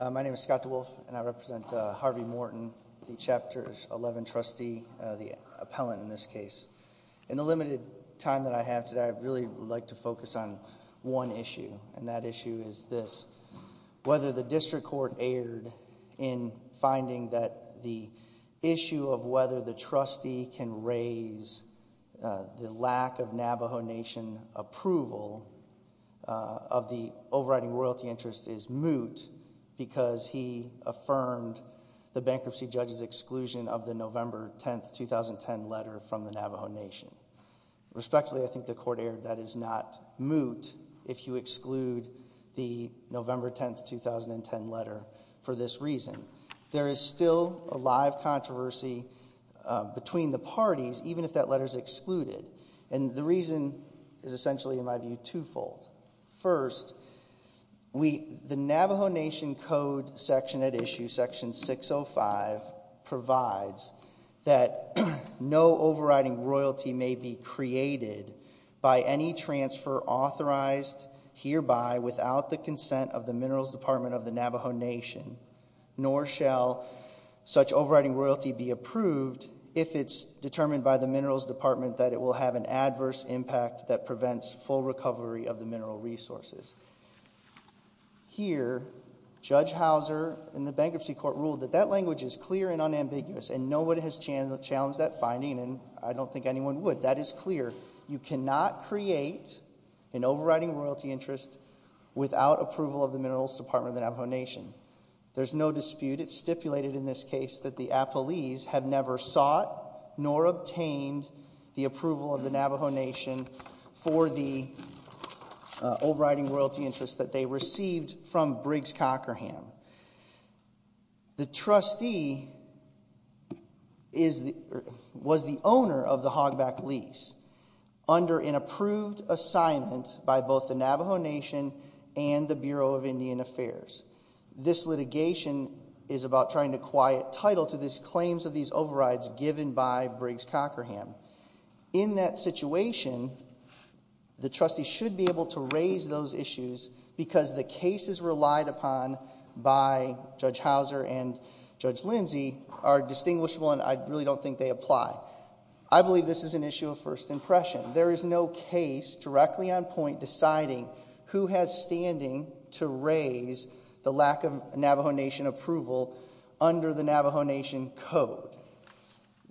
My name is Scott DeWolf, and I represent Harvey Morton, the Chapter 11 trustee, the appellant in this case. In the limited time that I have today, I'd really like to focus on one issue, and that issue is this. Whether the district court erred in finding that the issue of whether the trustee can raise the lack of Navajo Nation approval of the overriding royalty interest is moot because he affirmed the bankruptcy judge's exclusion of the November 10, 2010 letter from the Navajo Nation. Respectfully, I think the court erred. That is not moot if you exclude the November 10, 2010 letter for this reason. There is still a live controversy between the parties, even if that letter is excluded, and the reason is essentially, in my view, twofold. First, the Navajo Nation Code section at issue, section 605, provides that no overriding royalty may be created by any transfer authorized hereby without the consent of the Minerals Department of the Navajo Nation, nor shall such overriding royalty be approved if it's determined by the Minerals Department that it will have an adverse impact that prevents full recovery of the mineral resources. Here, Judge Houser in the bankruptcy court ruled that that language is clear and unambiguous, and no one has challenged that finding, and I don't think anyone would. That is clear. You cannot create an overriding royalty interest without approval of the Minerals Department of the Navajo Nation. There's no dispute. It's stipulated in this case that the Appalese have never sought nor obtained the approval of the Navajo Nation for the overriding royalty interest that they received from Briggs-Cockerham. The trustee was the owner of the Hogback lease under an approved assignment by both the Navajo Nation and the Bureau of Indian Affairs. This litigation is about trying to quiet title to these claims of these overrides given by Briggs-Cockerham. In that situation, the trustee should be able to raise those issues because the cases relied upon by Judge Houser and Judge Lindsey are distinguishable and I really don't think they apply. I believe this is an issue of first impression. There is no case directly on point deciding who has standing to raise the lack of Navajo Nation approval under the Navajo Nation code.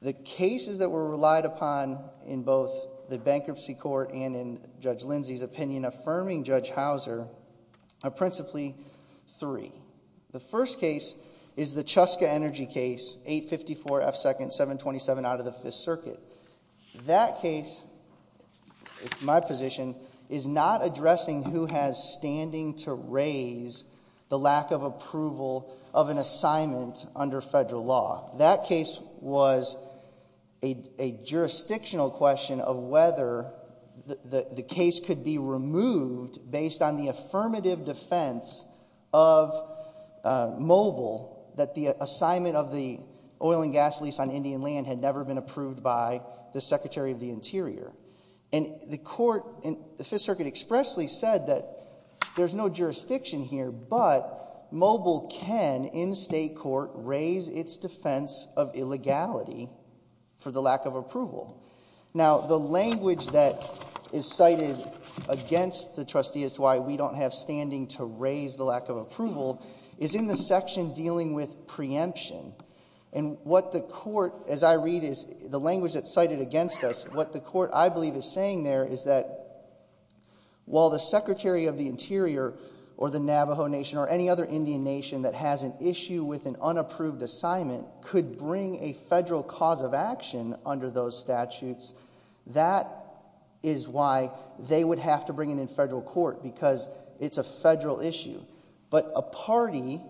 The cases that were relied upon in both the bankruptcy court and in Judge Lindsey's opinion affirming Judge Houser are principally three. The first case is the Chuska Energy case, 854 F 2nd, 727 out of the Fifth Circuit. That case, my position, is not addressing who has standing to raise the lack of approval of an assignment under federal law. That case was a jurisdictional question of whether the case could be removed based on the affirmative defense of Mobile that the assignment of the oil and gas lease on Indian land had never been approved by the Secretary of the Interior. And the court in the Fifth Circuit expressly said that there's no jurisdiction here, but Mobile can, in state court, raise its defense of illegality for the lack of approval. Now, the language that is cited against the trustee as to why we don't have standing to raise the lack of approval. Is in the section dealing with preemption. And what the court, as I read, is the language that's cited against us. What the court, I believe, is saying there is that while the Secretary of the Interior or the Navajo Nation or any other Indian nation that has an issue with an unapproved assignment could bring a federal cause of action under those statutes. That is why they would have to bring it in federal court because it's a federal issue. But a party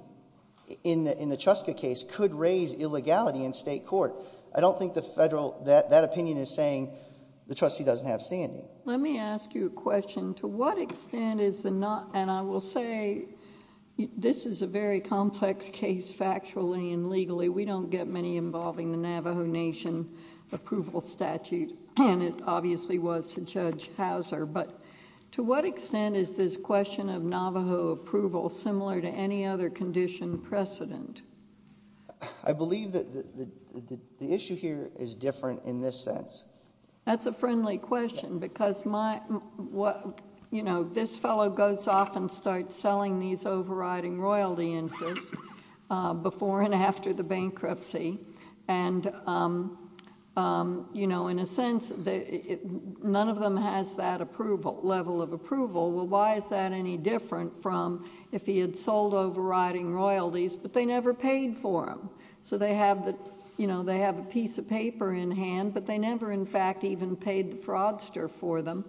in the Chuska case could raise illegality in state court. I don't think that opinion is saying the trustee doesn't have standing. Let me ask you a question. To what extent is the not, and I will say, this is a very complex case factually and legally. We don't get many involving the Navajo Nation approval statute, and it obviously was to Judge Houser. But to what extent is this question of Navajo approval similar to any other condition precedent? I believe that the issue here is different in this sense. That's a friendly question, because this fellow goes off and starts selling these overriding royalty interest before and after the bankruptcy. And in a sense, none of them has that level of approval. Well, why is that any different from if he had sold overriding royalties, but they never paid for them? So they have a piece of paper in hand, but they never in fact even paid the fraudster for them.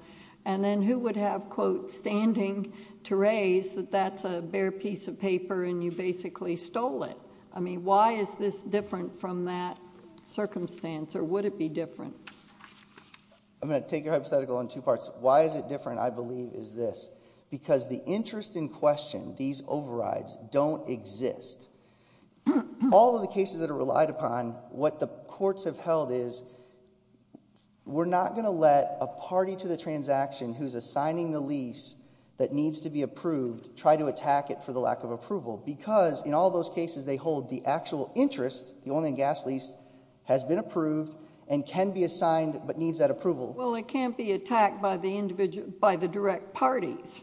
And then who would have, quote, standing to raise that that's a bare piece of paper and you basically stole it? I mean, why is this different from that circumstance, or would it be different? I'm going to take your hypothetical in two parts. Why is it different, I believe, is this. Because the interest in question, these overrides, don't exist. All of the cases that are relied upon, what the courts have held is, we're not going to let a party to the transaction who's assigning the lease that needs to be approved, try to attack it for the lack of approval, because in all those cases they hold the actual interest, the oil and gas lease, has been approved, and can be assigned, but needs that approval. Well, it can't be attacked by the direct parties.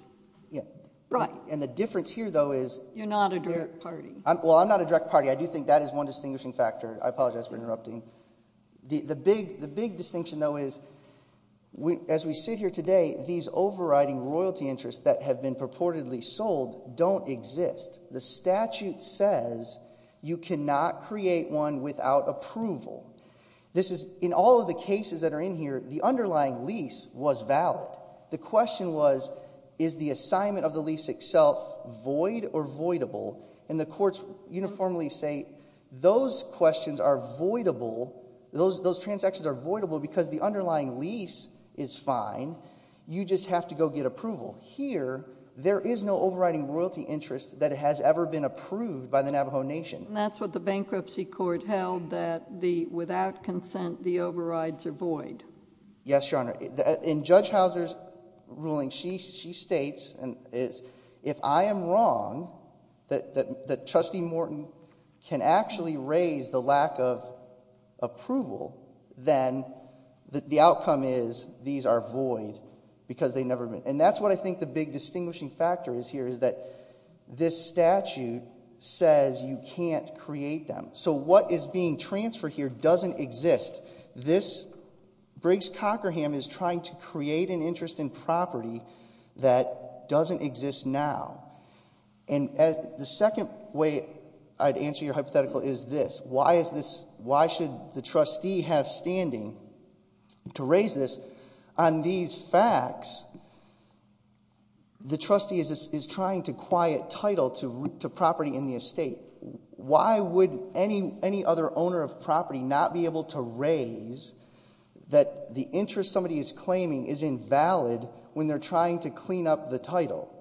Yeah. Right. And the difference here, though, is- You're not a direct party. Well, I'm not a direct party. I do think that is one distinguishing factor. I apologize for interrupting. The big distinction, though, is as we sit here today, these overriding royalty interests that have been purportedly sold don't exist. The statute says you cannot create one without approval. This is, in all of the cases that are in here, the underlying lease was valid. The question was, is the assignment of the lease itself void or voidable? And the courts uniformly say, those questions are voidable, those transactions are voidable because the underlying lease is fine. You just have to go get approval. Here, there is no overriding royalty interest that has ever been approved by the Navajo Nation. And that's what the bankruptcy court held, that without consent, the overrides are void. Yes, Your Honor. In Judge Houser's ruling, she states, if I am wrong, that Trustee Morton can actually raise the lack of approval, then the outcome is these are void because they never been. And that's what I think the big distinguishing factor is here, is that this statute says you can't create them. So what is being transferred here doesn't exist. This, Briggs-Cockerham is trying to create an interest in property that doesn't exist now. And the second way I'd answer your hypothetical is this, why should the trustee have standing to raise this? On these facts, the trustee is trying to quiet title to property in the estate. Why would any other owner of property not be able to raise that the interest somebody is claiming is invalid when they're trying to clean up the title?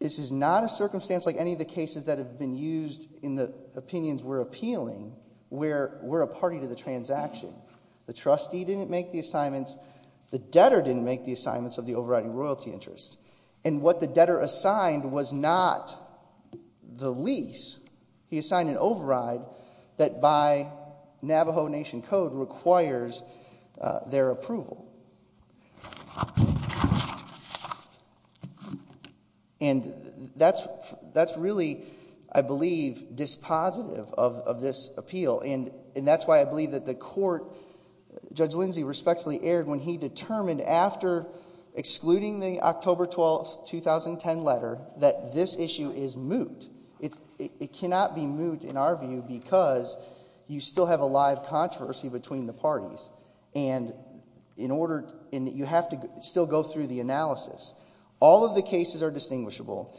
This is not a circumstance like any of the cases that have been used in the opinions we're appealing, where we're a party to the transaction. The trustee didn't make the assignments, the debtor didn't make the assignments of the overriding royalty interest. And what the debtor assigned was not the lease, he assigned an override that by Navajo Nation code requires their approval. And that's really, I believe, dispositive of this appeal. And that's why I believe that the court, Judge Lindsay respectfully erred when he determined after excluding the October 12th, 2010 letter, that this issue is moot. It cannot be moot in our view because you still have a live controversy between the parties. And you have to still go through the analysis. All of the cases are distinguishable,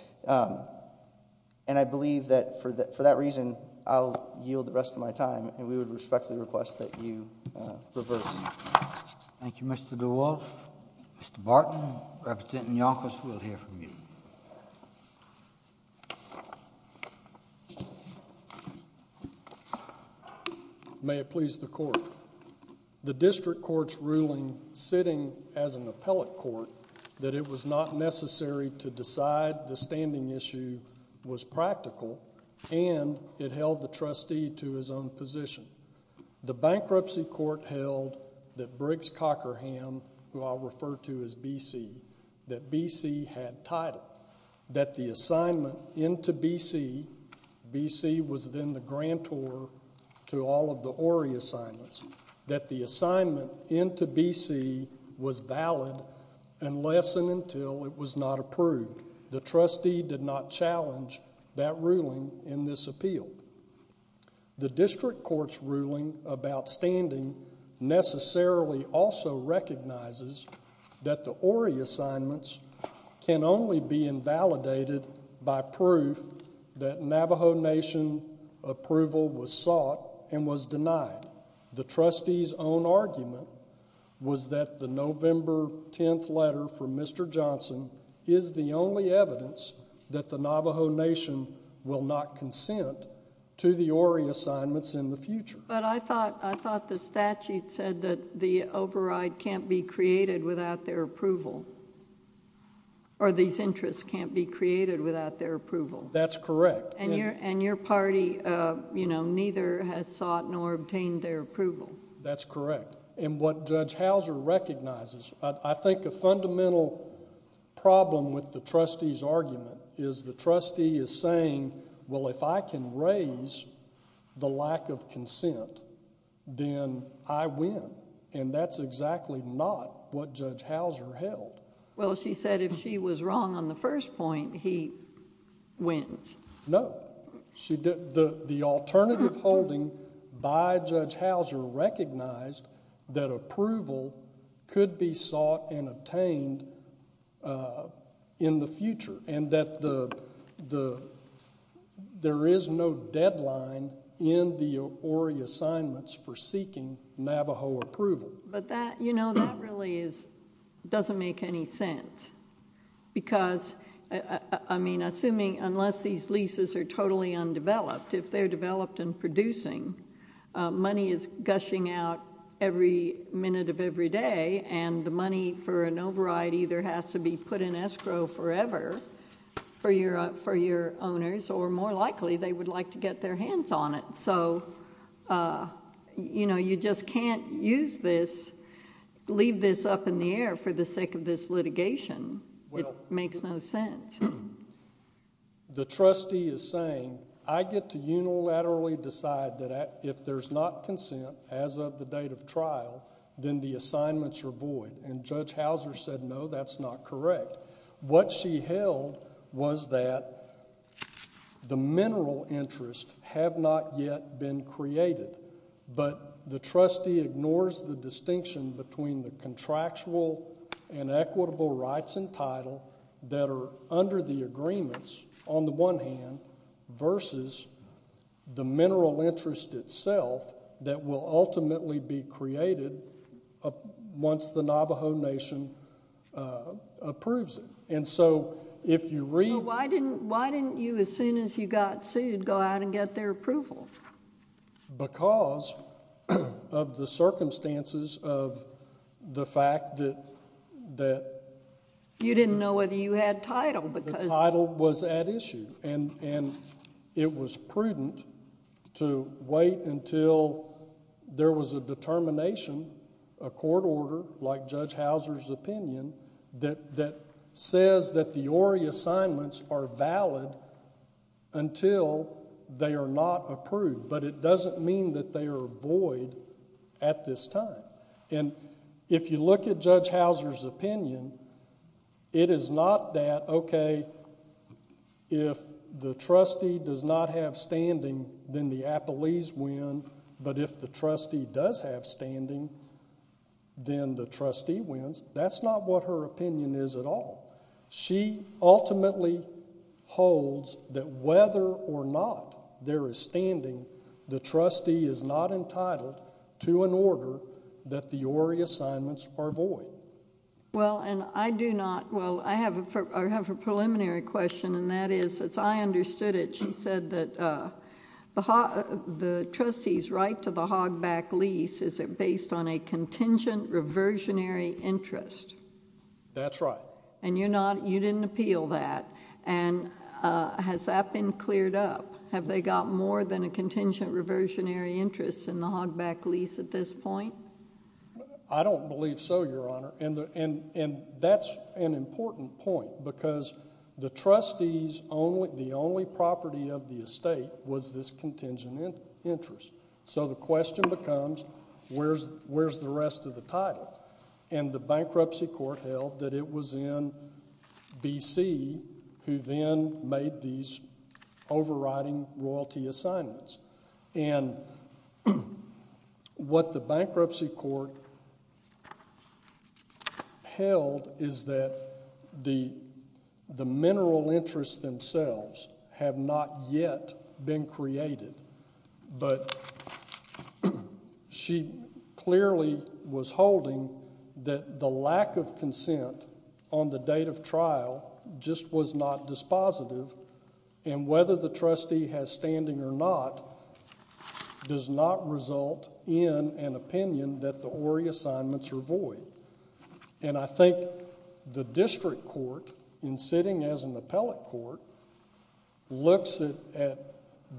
and I believe that for that reason, I'll yield the rest of my time, and we would respectfully request that you reverse. Thank you, Mr. DeWolf. Mr. Barton, representing the office, we'll hear from you. May it please the court. The district court's ruling, sitting as an appellate court, that it was not necessary to decide the standing issue was practical, and it held the trustee to his own position. The bankruptcy court held that Briggs-Cockerham, who I'll refer to as BC, that BC had title. That the assignment into BC, BC was then the grantor to all of the Ory assignments. That the assignment into BC was valid unless and until it was not approved. The trustee did not challenge that ruling in this appeal. The district court's ruling about standing necessarily also recognizes that the Ory assignments can only be invalidated by proof that Navajo Nation approval was sought and was denied. The trustee's own argument was that the November 10th letter from Mr. Johnson is the only evidence that the Navajo Nation will not consent to the Ory assignments in the future. But I thought the statute said that the override can't be created without their approval. Or these interests can't be created without their approval. That's correct. And your party, you know, neither has sought nor obtained their approval. That's correct. And what Judge Houser recognizes, I think a fundamental problem with the trustee's argument is the trustee is saying, well, if I can raise the lack of consent, then I win. And that's exactly not what Judge Houser held. Well, she said if she was wrong on the first point, he wins. No. The alternative holding by Judge Houser recognized that approval could be sought and obtained in the future. And that there is no deadline in the Ory assignments for seeking Navajo approval. But that, you know, that really doesn't make any sense. Because, I mean, assuming, unless these leases are totally undeveloped, if they're developed and producing, money is gushing out every minute of every day. And the money for an override either has to be put in escrow forever for your owners, or more likely, they would like to get their hands on it. So, you know, you just can't use this, leave this up in the air for the sake of this litigation. It makes no sense. The trustee is saying, I get to unilaterally decide that if there's not consent, as of the date of trial, then the assignments are void. And Judge Houser said, no, that's not correct. What she held was that the mineral interests have not yet been created. But the trustee ignores the distinction between the contractual and equitable rights and title that are under the agreements, on the one hand, versus the mineral interest itself that will ultimately be created once the Navajo Nation approves it. And so, if you read- Well, why didn't you, as soon as you got sued, go out and get their approval? Because of the circumstances of the fact that- You didn't know whether you had title, because- The title was at issue. And it was prudent to wait until there was a determination, a court order, like Judge Houser's opinion, that says that the ORE assignments are valid until they are not approved. But it doesn't mean that they are void at this time. And if you look at Judge Houser's opinion, it is not that, okay, if the trustee does not have standing, then the appellees win. But if the trustee does have standing, then the trustee wins. That's not what her opinion is at all. She ultimately holds that whether or not there is standing, the trustee is not entitled to an order that the ORE assignments are void. Well, and I do not, well, I have a preliminary question, and that is, as I understood it, she said that the trustee's right to the hogback lease is based on a contingent reversionary interest. That's right. And you didn't appeal that. And has that been cleared up? Have they got more than a contingent reversionary interest in the hogback lease at this point? I don't believe so, Your Honor, and that's an important point, because the trustees, the only property of the estate was this contingent interest. So the question becomes, where's the rest of the title? And the bankruptcy court held that it was in BC who then made these overriding royalty assignments. And what the bankruptcy court held is that the mineral interests themselves have not yet been created. But she clearly was holding that the lack of consent on the date of trial just was not dispositive, and whether the trustee has standing or not does not result in an opinion that the ORE assignments are void. And I think the district court, in sitting as an appellate court, looks at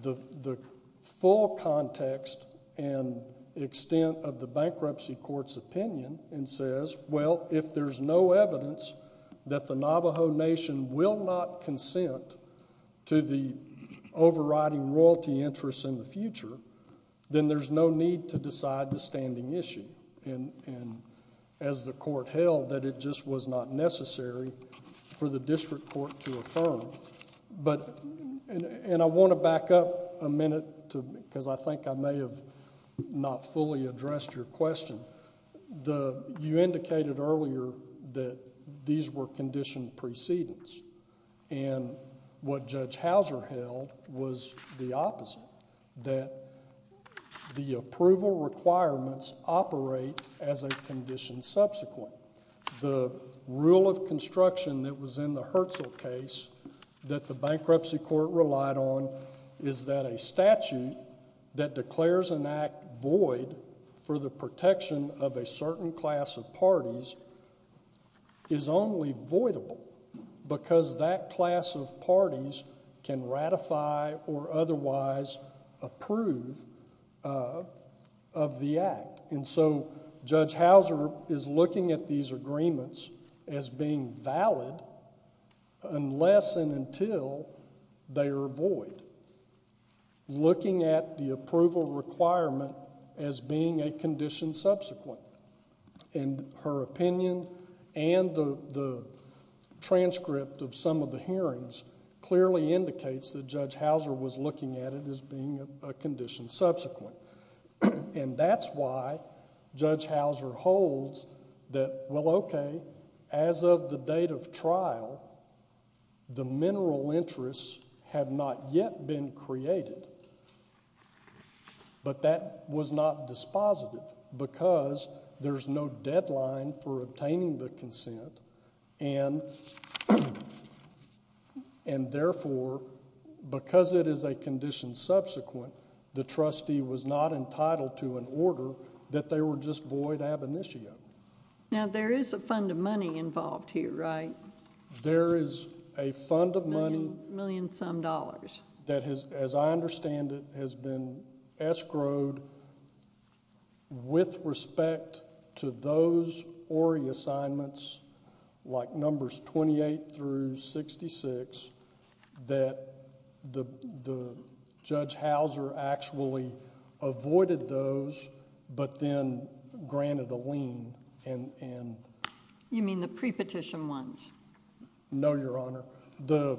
the full context and extent of the bankruptcy court's opinion and says, well, if there's no evidence that the Navajo Nation will not consent to the overriding royalty interests in the future, then there's no need to decide the standing issue. And as the court held, that it just was not necessary for the district court to affirm, and I want to back up a minute because I think I may have not fully addressed your question. You indicated earlier that these were conditioned precedents. And what Judge Houser held was the opposite, that the approval requirements operate as a condition subsequent. The rule of construction that was in the Hertzel case that the bankruptcy court relied on is that a statute that declares an act void for the protection of a certain class of parties is only voidable, because that class of parties can ratify or otherwise approve of the act. And so, Judge Houser is looking at these agreements as being valid unless and until they are void, looking at the approval requirement as being a condition subsequent. And her opinion and the transcript of some of the hearings clearly indicates that Judge Houser was looking at it as being a condition subsequent, and that's why Judge Houser holds that, well, okay, as of the date of trial, the mineral interests have not yet been created. But that was not dispositive, because there's no deadline for obtaining the consent, and therefore, because it is a condition subsequent, the trustee was not entitled to an order that they were just void ab initio. Now, there is a fund of money involved here, right? There is a fund of money. Million some dollars. That has, as I understand it, has been escrowed with respect to those Tory assignments, like Numbers 28 through 66, that the Judge Houser actually avoided those, but then granted a lien, and. You mean the pre-petition ones? No, Your Honor. The,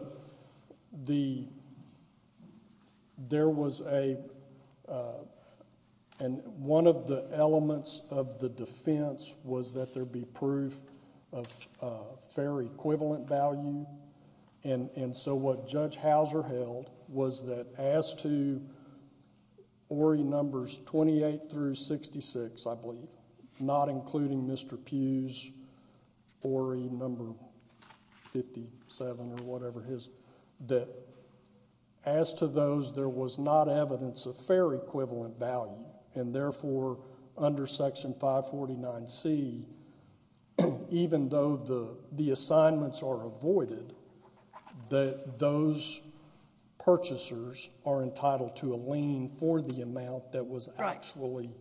there was a, and one of the elements of the defense was that there be proof of fair equivalent value, and so what Judge Houser held was that as to Orrey Numbers 28 through 66, I believe, not including Mr. Pugh's Orrey Number 57 or whatever his, that as to those, there was not evidence of fair equivalent value, and therefore, under Section 549C, even though the assignments are avoided, that those purchasers are entitled to a lien for the amount that was actually. Right,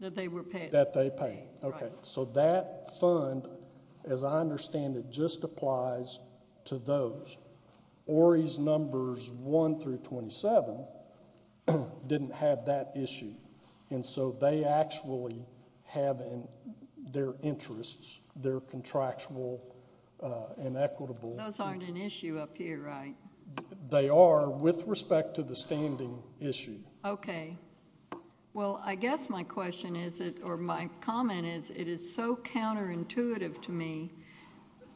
that they were paid. That they paid. Okay, so that fund, as I understand it, just applies to those. Orrey's Numbers 1 through 27 didn't have that issue, and so they actually have their interests, their contractual and equitable. Those aren't an issue up here, right? They are, with respect to the standing issue. Okay, well, I guess my question is, or my comment is, it is so counterintuitive to me,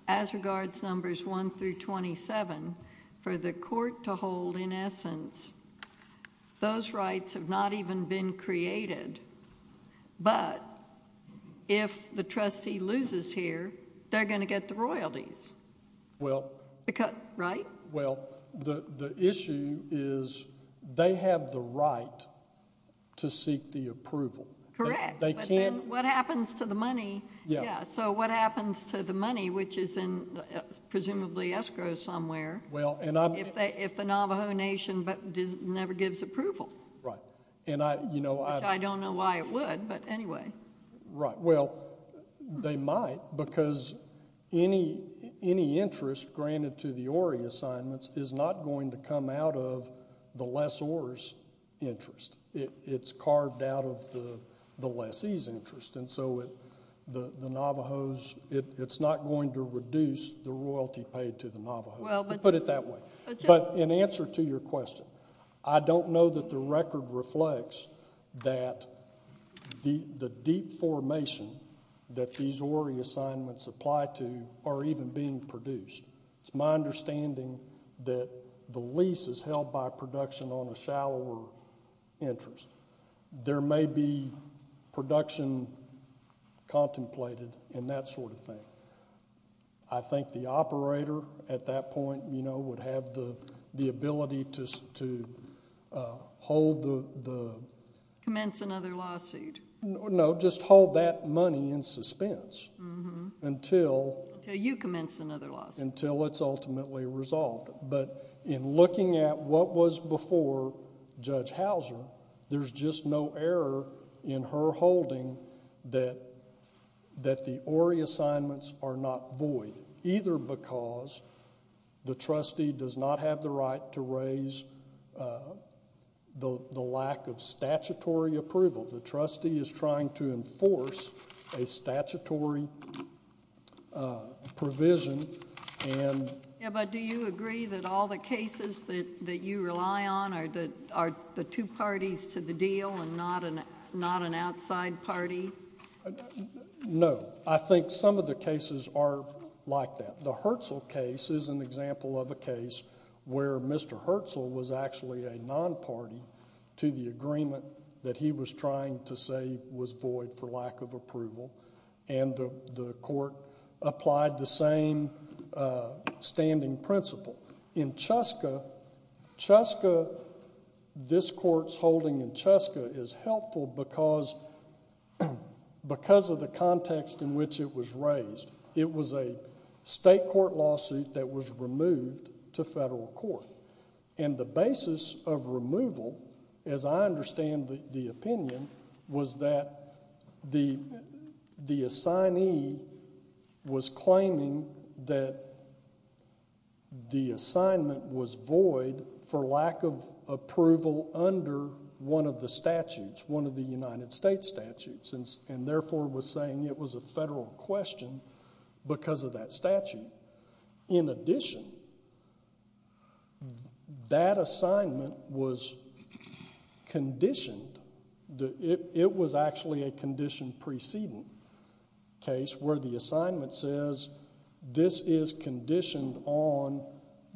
as regards Numbers 1 through 27, for the court to hold, in essence, those rights have not even been created, but if the trustee loses here, they're going to get the royalties, right? Well, the issue is they have the right to seek the approval. Correct, but then what happens to the money? Yeah, so what happens to the money, which is in, presumably, escrow somewhere? Well, and I'm- If the Navajo Nation never gives approval. Right, and I, you know, I- Which I don't know why it would, but anyway. Right, well, they might, because any interest granted to the Orrey assignments is not going to come out of the lessor's interest. It's carved out of the lessee's interest, and so the Navajos, it's not going to reduce the royalty paid to the Navajos. Put it that way, but in answer to your question, I don't know that the record reflects that the deep formation that these Orrey assignments apply to are even being produced. It's my understanding that the lease is held by production on a shallower interest. There may be production contemplated and that sort of thing. I think the operator, at that point, you know, would have the ability to hold the- Commence another lawsuit. No, just hold that money in suspense until- Until you commence another lawsuit. Until it's ultimately resolved, but in looking at what was before Judge Hauser, there's just no error in her holding that the Orrey assignments are not void, either because the trustee does not have the right to raise the lack of statutory approval. The trustee is trying to enforce a statutory provision and- And not an outside party? No, I think some of the cases are like that. The Hertzel case is an example of a case where Mr. Hertzel was actually a non-party to the agreement that he was trying to say was void for lack of approval, and the court applied the same standing principle. In Cheska, this court's holding in Cheska is helpful because of the context in which it was raised. It was a state court lawsuit that was removed to federal court, and the basis of removal, as I understand the opinion, was that the assignee was claiming that the assignment was void for lack of approval under one of the statutes, one of the United States statutes, and therefore was saying it was a federal question because of that statute. In addition, that assignment was conditioned. It was actually a condition preceding case where the assignment says, this is conditioned on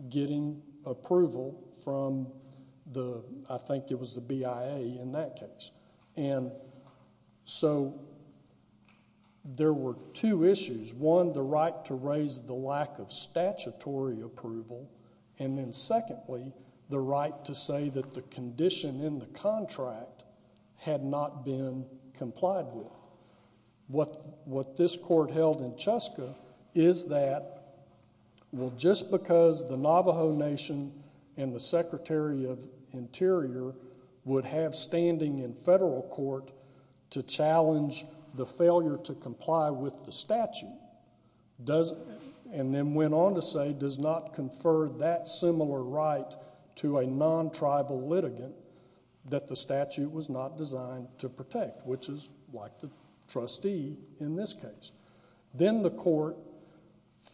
getting approval from the, I think it was the BIA in that case. So there were two issues. One, the right to raise the lack of statutory approval, and then secondly, the right to say that the condition in the contract had not been complied with. What this court held in Cheska is that, well, just because the Navajo Nation and the Secretary of Interior would have standing in federal court to challenge the failure to comply with the statute, does, and then went on to say, does not confer that similar right to a non-tribal litigant that the statute was not designed to protect, which is like the trustee in this case. Then the court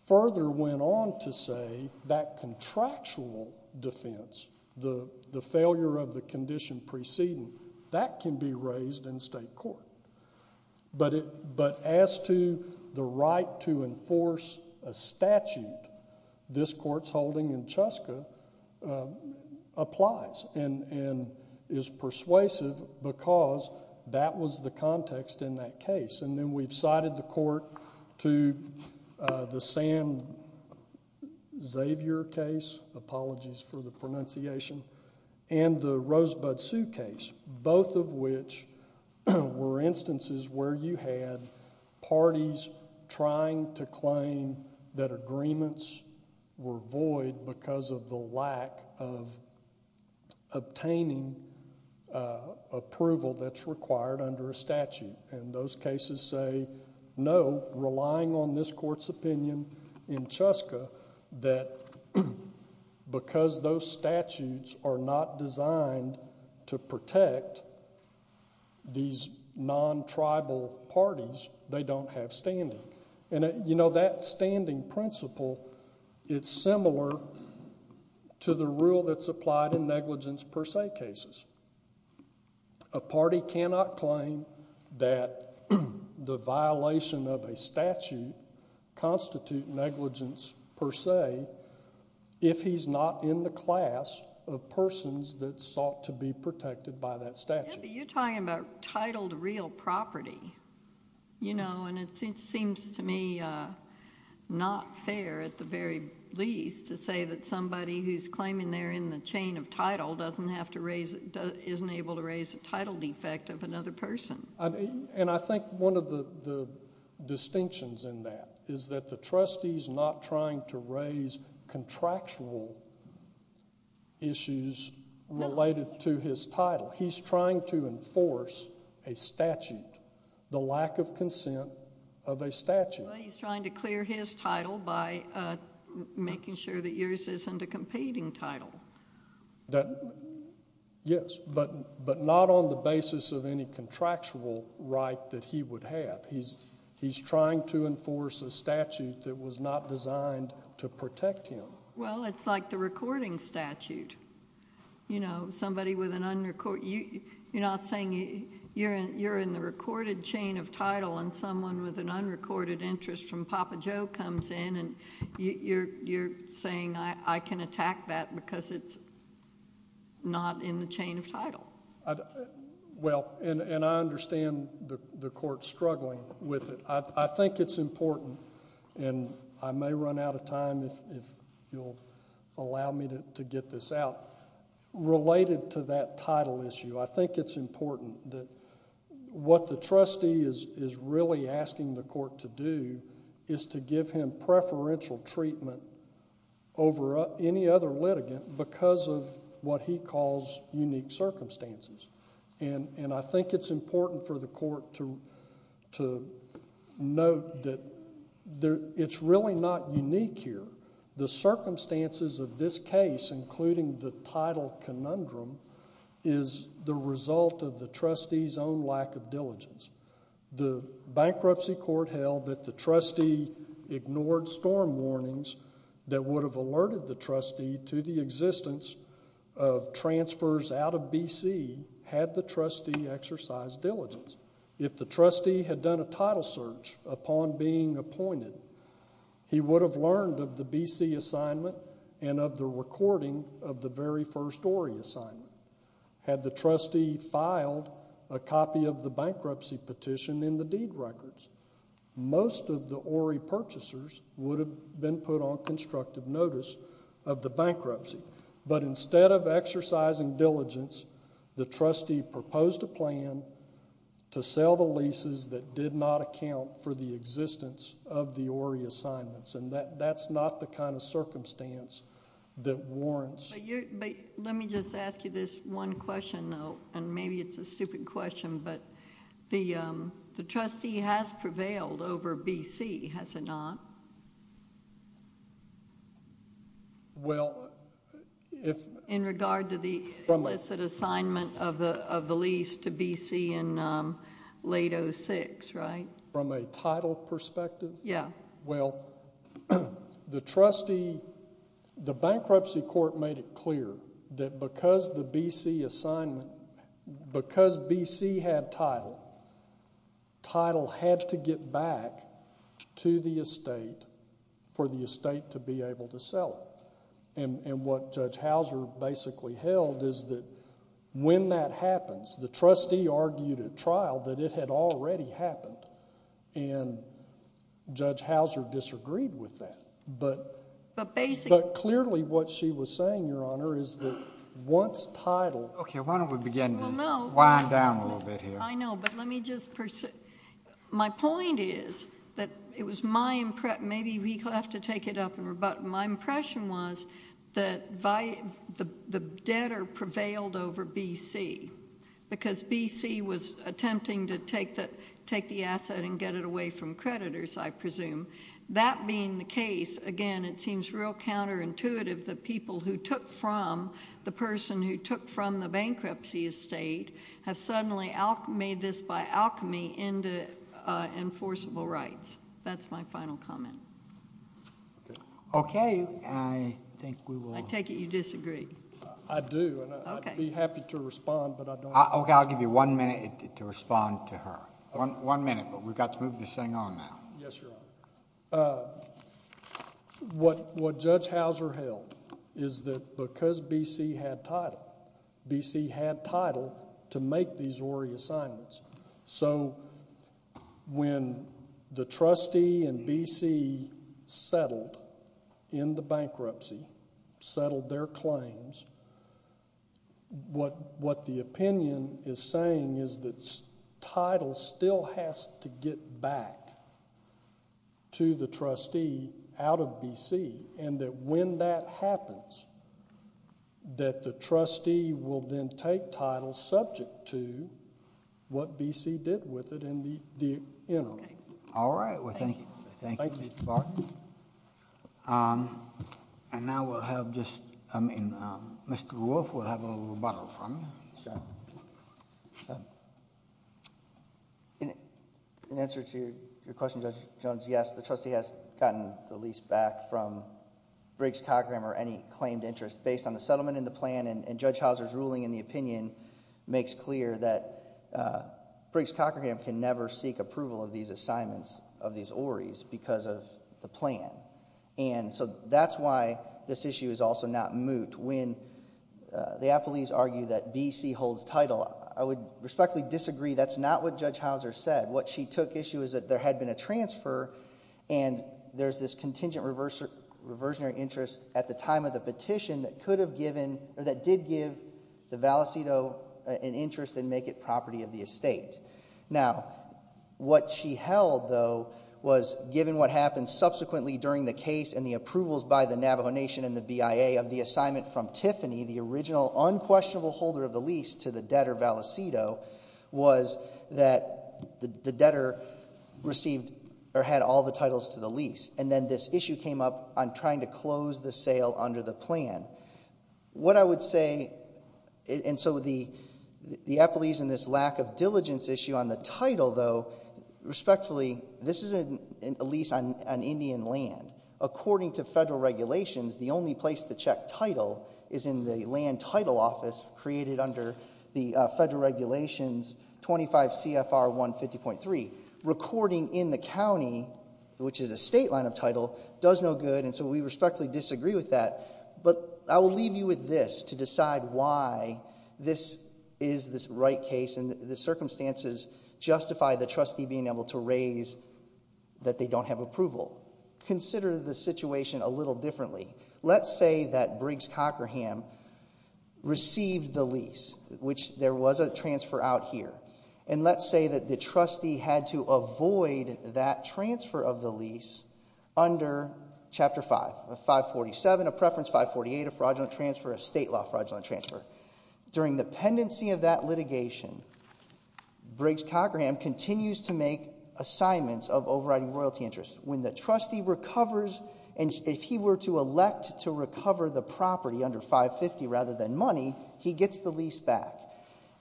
further went on to say that contractual defense, the failure of the condition preceding, that can be raised in state court. But as to the right to enforce a statute, this court's holding in Cheska applies and is persuasive because that was the context in that case. And then we've cited the court to the San Xavier case, apologies for the pronunciation, and the Rosebud Sioux case, both of which were instances where you had parties trying to claim that agreements were void because of the lack of obtaining approval that's required under a statute. And those cases say, no, relying on this court's opinion in Cheska, that because those statutes are not designed to protect these non-tribal parties, they don't have standing. And that standing principle, it's similar to the rule that's applied in negligence per se cases. A party cannot claim that the violation of a statute constitute negligence per se if he's not in the class of persons that sought to be protected by that statute. But you're talking about titled real property, you know, and it seems to me not fair at the very least to say that somebody who's claiming they're in the chain of title doesn't have to raise, isn't able to raise a title defect of another person. And I think one of the distinctions in that is that the trustee's not trying to raise contractual issues related to his title. He's trying to enforce a statute, the lack of consent of a statute. He's trying to clear his title by making sure that yours isn't a competing title. That, yes, but not on the basis of any contractual right that he would have. He's trying to enforce a statute that was not designed to protect him. Well, it's like the recording statute. You know, somebody with an unrecorded, you're not saying you're in the recorded chain of title and someone with an unrecorded interest from Papa Joe comes in and you're saying I can attack that because it's not in the chain of title. Well, and I understand the court's struggling with it. I think it's important, and I may run out of time if you'll allow me to get this out. Related to that title issue, I think it's important that what the trustee is really asking the court to do is to give him preferential treatment over any other litigant because of what he calls unique circumstances. I think it's important for the court to note that it's really not unique here. The circumstances of this case, including the title conundrum, is the result of the trustee's own lack of diligence. The bankruptcy court held that the trustee ignored storm warnings that would have alerted the trustee to the existence of transfers out of B.C. had the trustee exercised diligence. If the trustee had done a title search upon being appointed, he would have learned of the B.C. assignment and of the recording of the very first Ory assignment. Had the trustee filed a copy of the bankruptcy petition in the deed records, most of the Ory purchasers would have been put on constructive notice of the bankruptcy, but instead of exercising diligence, the trustee proposed a plan to sell the leases that did not account for the existence of the Ory assignments, and that's not the kind of circumstance that warrants- Let me just ask you this one question, though, and maybe it's a stupid question, but the trustee has prevailed over B.C., has it not? Well, if- In regard to the illicit assignment of the lease to B.C. in late 06, right? From a title perspective? Yeah. Well, the trustee, the bankruptcy court made it clear that because the B.C. assignment, because B.C. had title, title had to get back to the estate for the estate to be able to sell it, and what Judge Houser basically held is that when that happens, the trustee argued at trial that it had already happened, and Judge Houser disagreed with that, but clearly what she was saying, Your Honor, is that once title- Okay, why don't we begin to wind down a little bit here? I know, but let me just pursue- My point is that it was my impression, maybe we have to take it up and rebut, but my impression was that the debtor prevailed over B.C. Because B.C. was attempting to take the asset and get it away from creditors, I presume. That being the case, again, it seems real counterintuitive that people who took from the person who took from the bankruptcy estate have suddenly made this by alchemy into enforceable rights. That's my final comment. Okay, I think we will- I take it you disagree. I do, and I'd be happy to respond, Okay, I'll give you one minute to respond to her. One minute, but we've got to move this thing on now. Yes, Your Honor. What Judge Houser held is that because B.C. had title, B.C. had title to make these Rory assignments, so when the trustee and B.C. settled in the bankruptcy, settled their claims, what the opinion is saying is that title still has to get back to the trustee out of B.C. and that when that happens, that the trustee will then take title subject to what B.C. did with it in the interim. Okay, all right. Thank you, Mr. Bartlett. Okay, and now we'll have just, I mean, Mr. Wolf will have a rebuttal from you. Yes, sir. In answer to your question, Judge Jones, yes, the trustee has gotten the lease back from Briggs-Cockerham or any claimed interest based on the settlement in the plan, and Judge Houser's ruling in the opinion makes clear that Briggs-Cockerham can never seek approval of these Orys because of the plan, and so that's why this issue is also not moot. When the appellees argue that B.C. holds title, I would respectfully disagree. That's not what Judge Houser said. What she took issue is that there had been a transfer, and there's this contingent reversionary interest at the time of the petition that could have given, or that did give the Valisito an interest and make it property of the estate. Now, what she held, though, was given what happened subsequently during the case and the approvals by the Navajo Nation and the BIA of the assignment from Tiffany, the original unquestionable holder of the lease to the debtor Valisito, was that the debtor received or had all the titles to the lease, and then this issue came up on trying to close the sale under the title, though, respectfully, this is a lease on Indian land. According to federal regulations, the only place to check title is in the land title office created under the federal regulations 25 CFR 150.3. Recording in the county, which is a state line of title, does no good, and so we respectfully disagree with that, but I will leave you with this to decide why this is the right case and the circumstances justify the trustee being able to raise that they don't have approval. Consider the situation a little differently. Let's say that Briggs-Cockerham received the lease, which there was a transfer out here, and let's say that the trustee had to avoid that transfer of the lease under chapter 5, 547, a preference 548, a fraudulent transfer, a state law fraudulent transfer. During the pendency of that litigation, Briggs-Cockerham continues to make assignments of overriding royalty interest. When the trustee recovers, and if he were to elect to recover the property under 550 rather than money, he gets the lease back,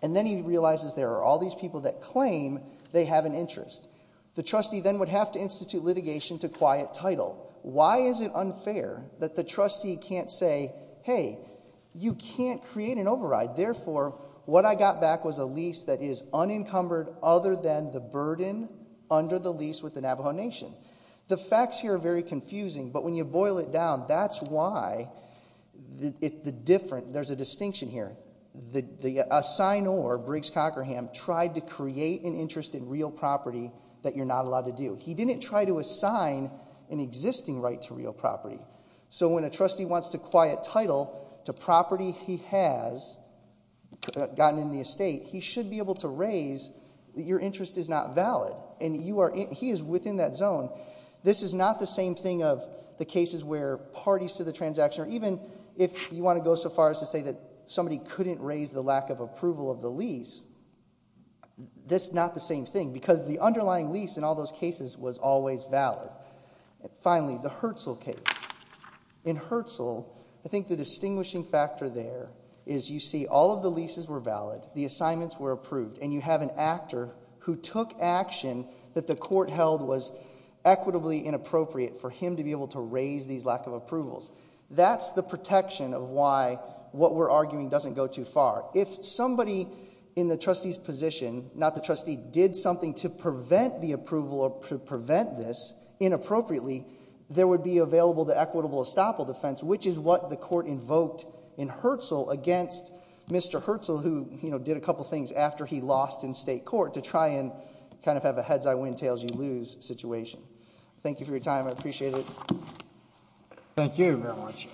and then he realizes there are all these people that claim they have an interest. The trustee then would have to institute litigation to quiet title. Why is it unfair that the trustee can't say, hey, you can't create an override, therefore what I got back was a lease that is unencumbered other than the burden under the lease with the Navajo Nation? The facts here are very confusing, but when you boil it down, that's why the different, there's a distinction here. The assignor, Briggs-Cockerham, tried to create an interest in real property that you're not allowed to do. He didn't try to assign an existing right to real property. So when a trustee wants to quiet title to property he has gotten in the estate, he should be able to raise that your interest is not valid, and he is within that zone. This is not the same thing of the cases where parties to the transaction, or even if you want to go so far as to say that somebody couldn't raise the lack of approval of the lease, this is not the same thing. Because the underlying lease in all those cases was always valid. Finally, the Hertzel case. In Hertzel, I think the distinguishing factor there is you see all of the leases were valid, the assignments were approved, and you have an actor who took action that the court held was equitably inappropriate for him to be able to raise these lack of approvals. That's the protection of why what we're arguing doesn't go too far. If somebody in the trustee's position, not the trustee, did something to prevent the approval or to prevent this inappropriately, there would be available to equitable estoppel defense, which is what the court invoked in Hertzel against Mr. Hertzel, who did a couple things after he lost in state court to try and kind of have a heads, I win, tails, you lose situation. Thank you for your time. I appreciate it. Thank you very much.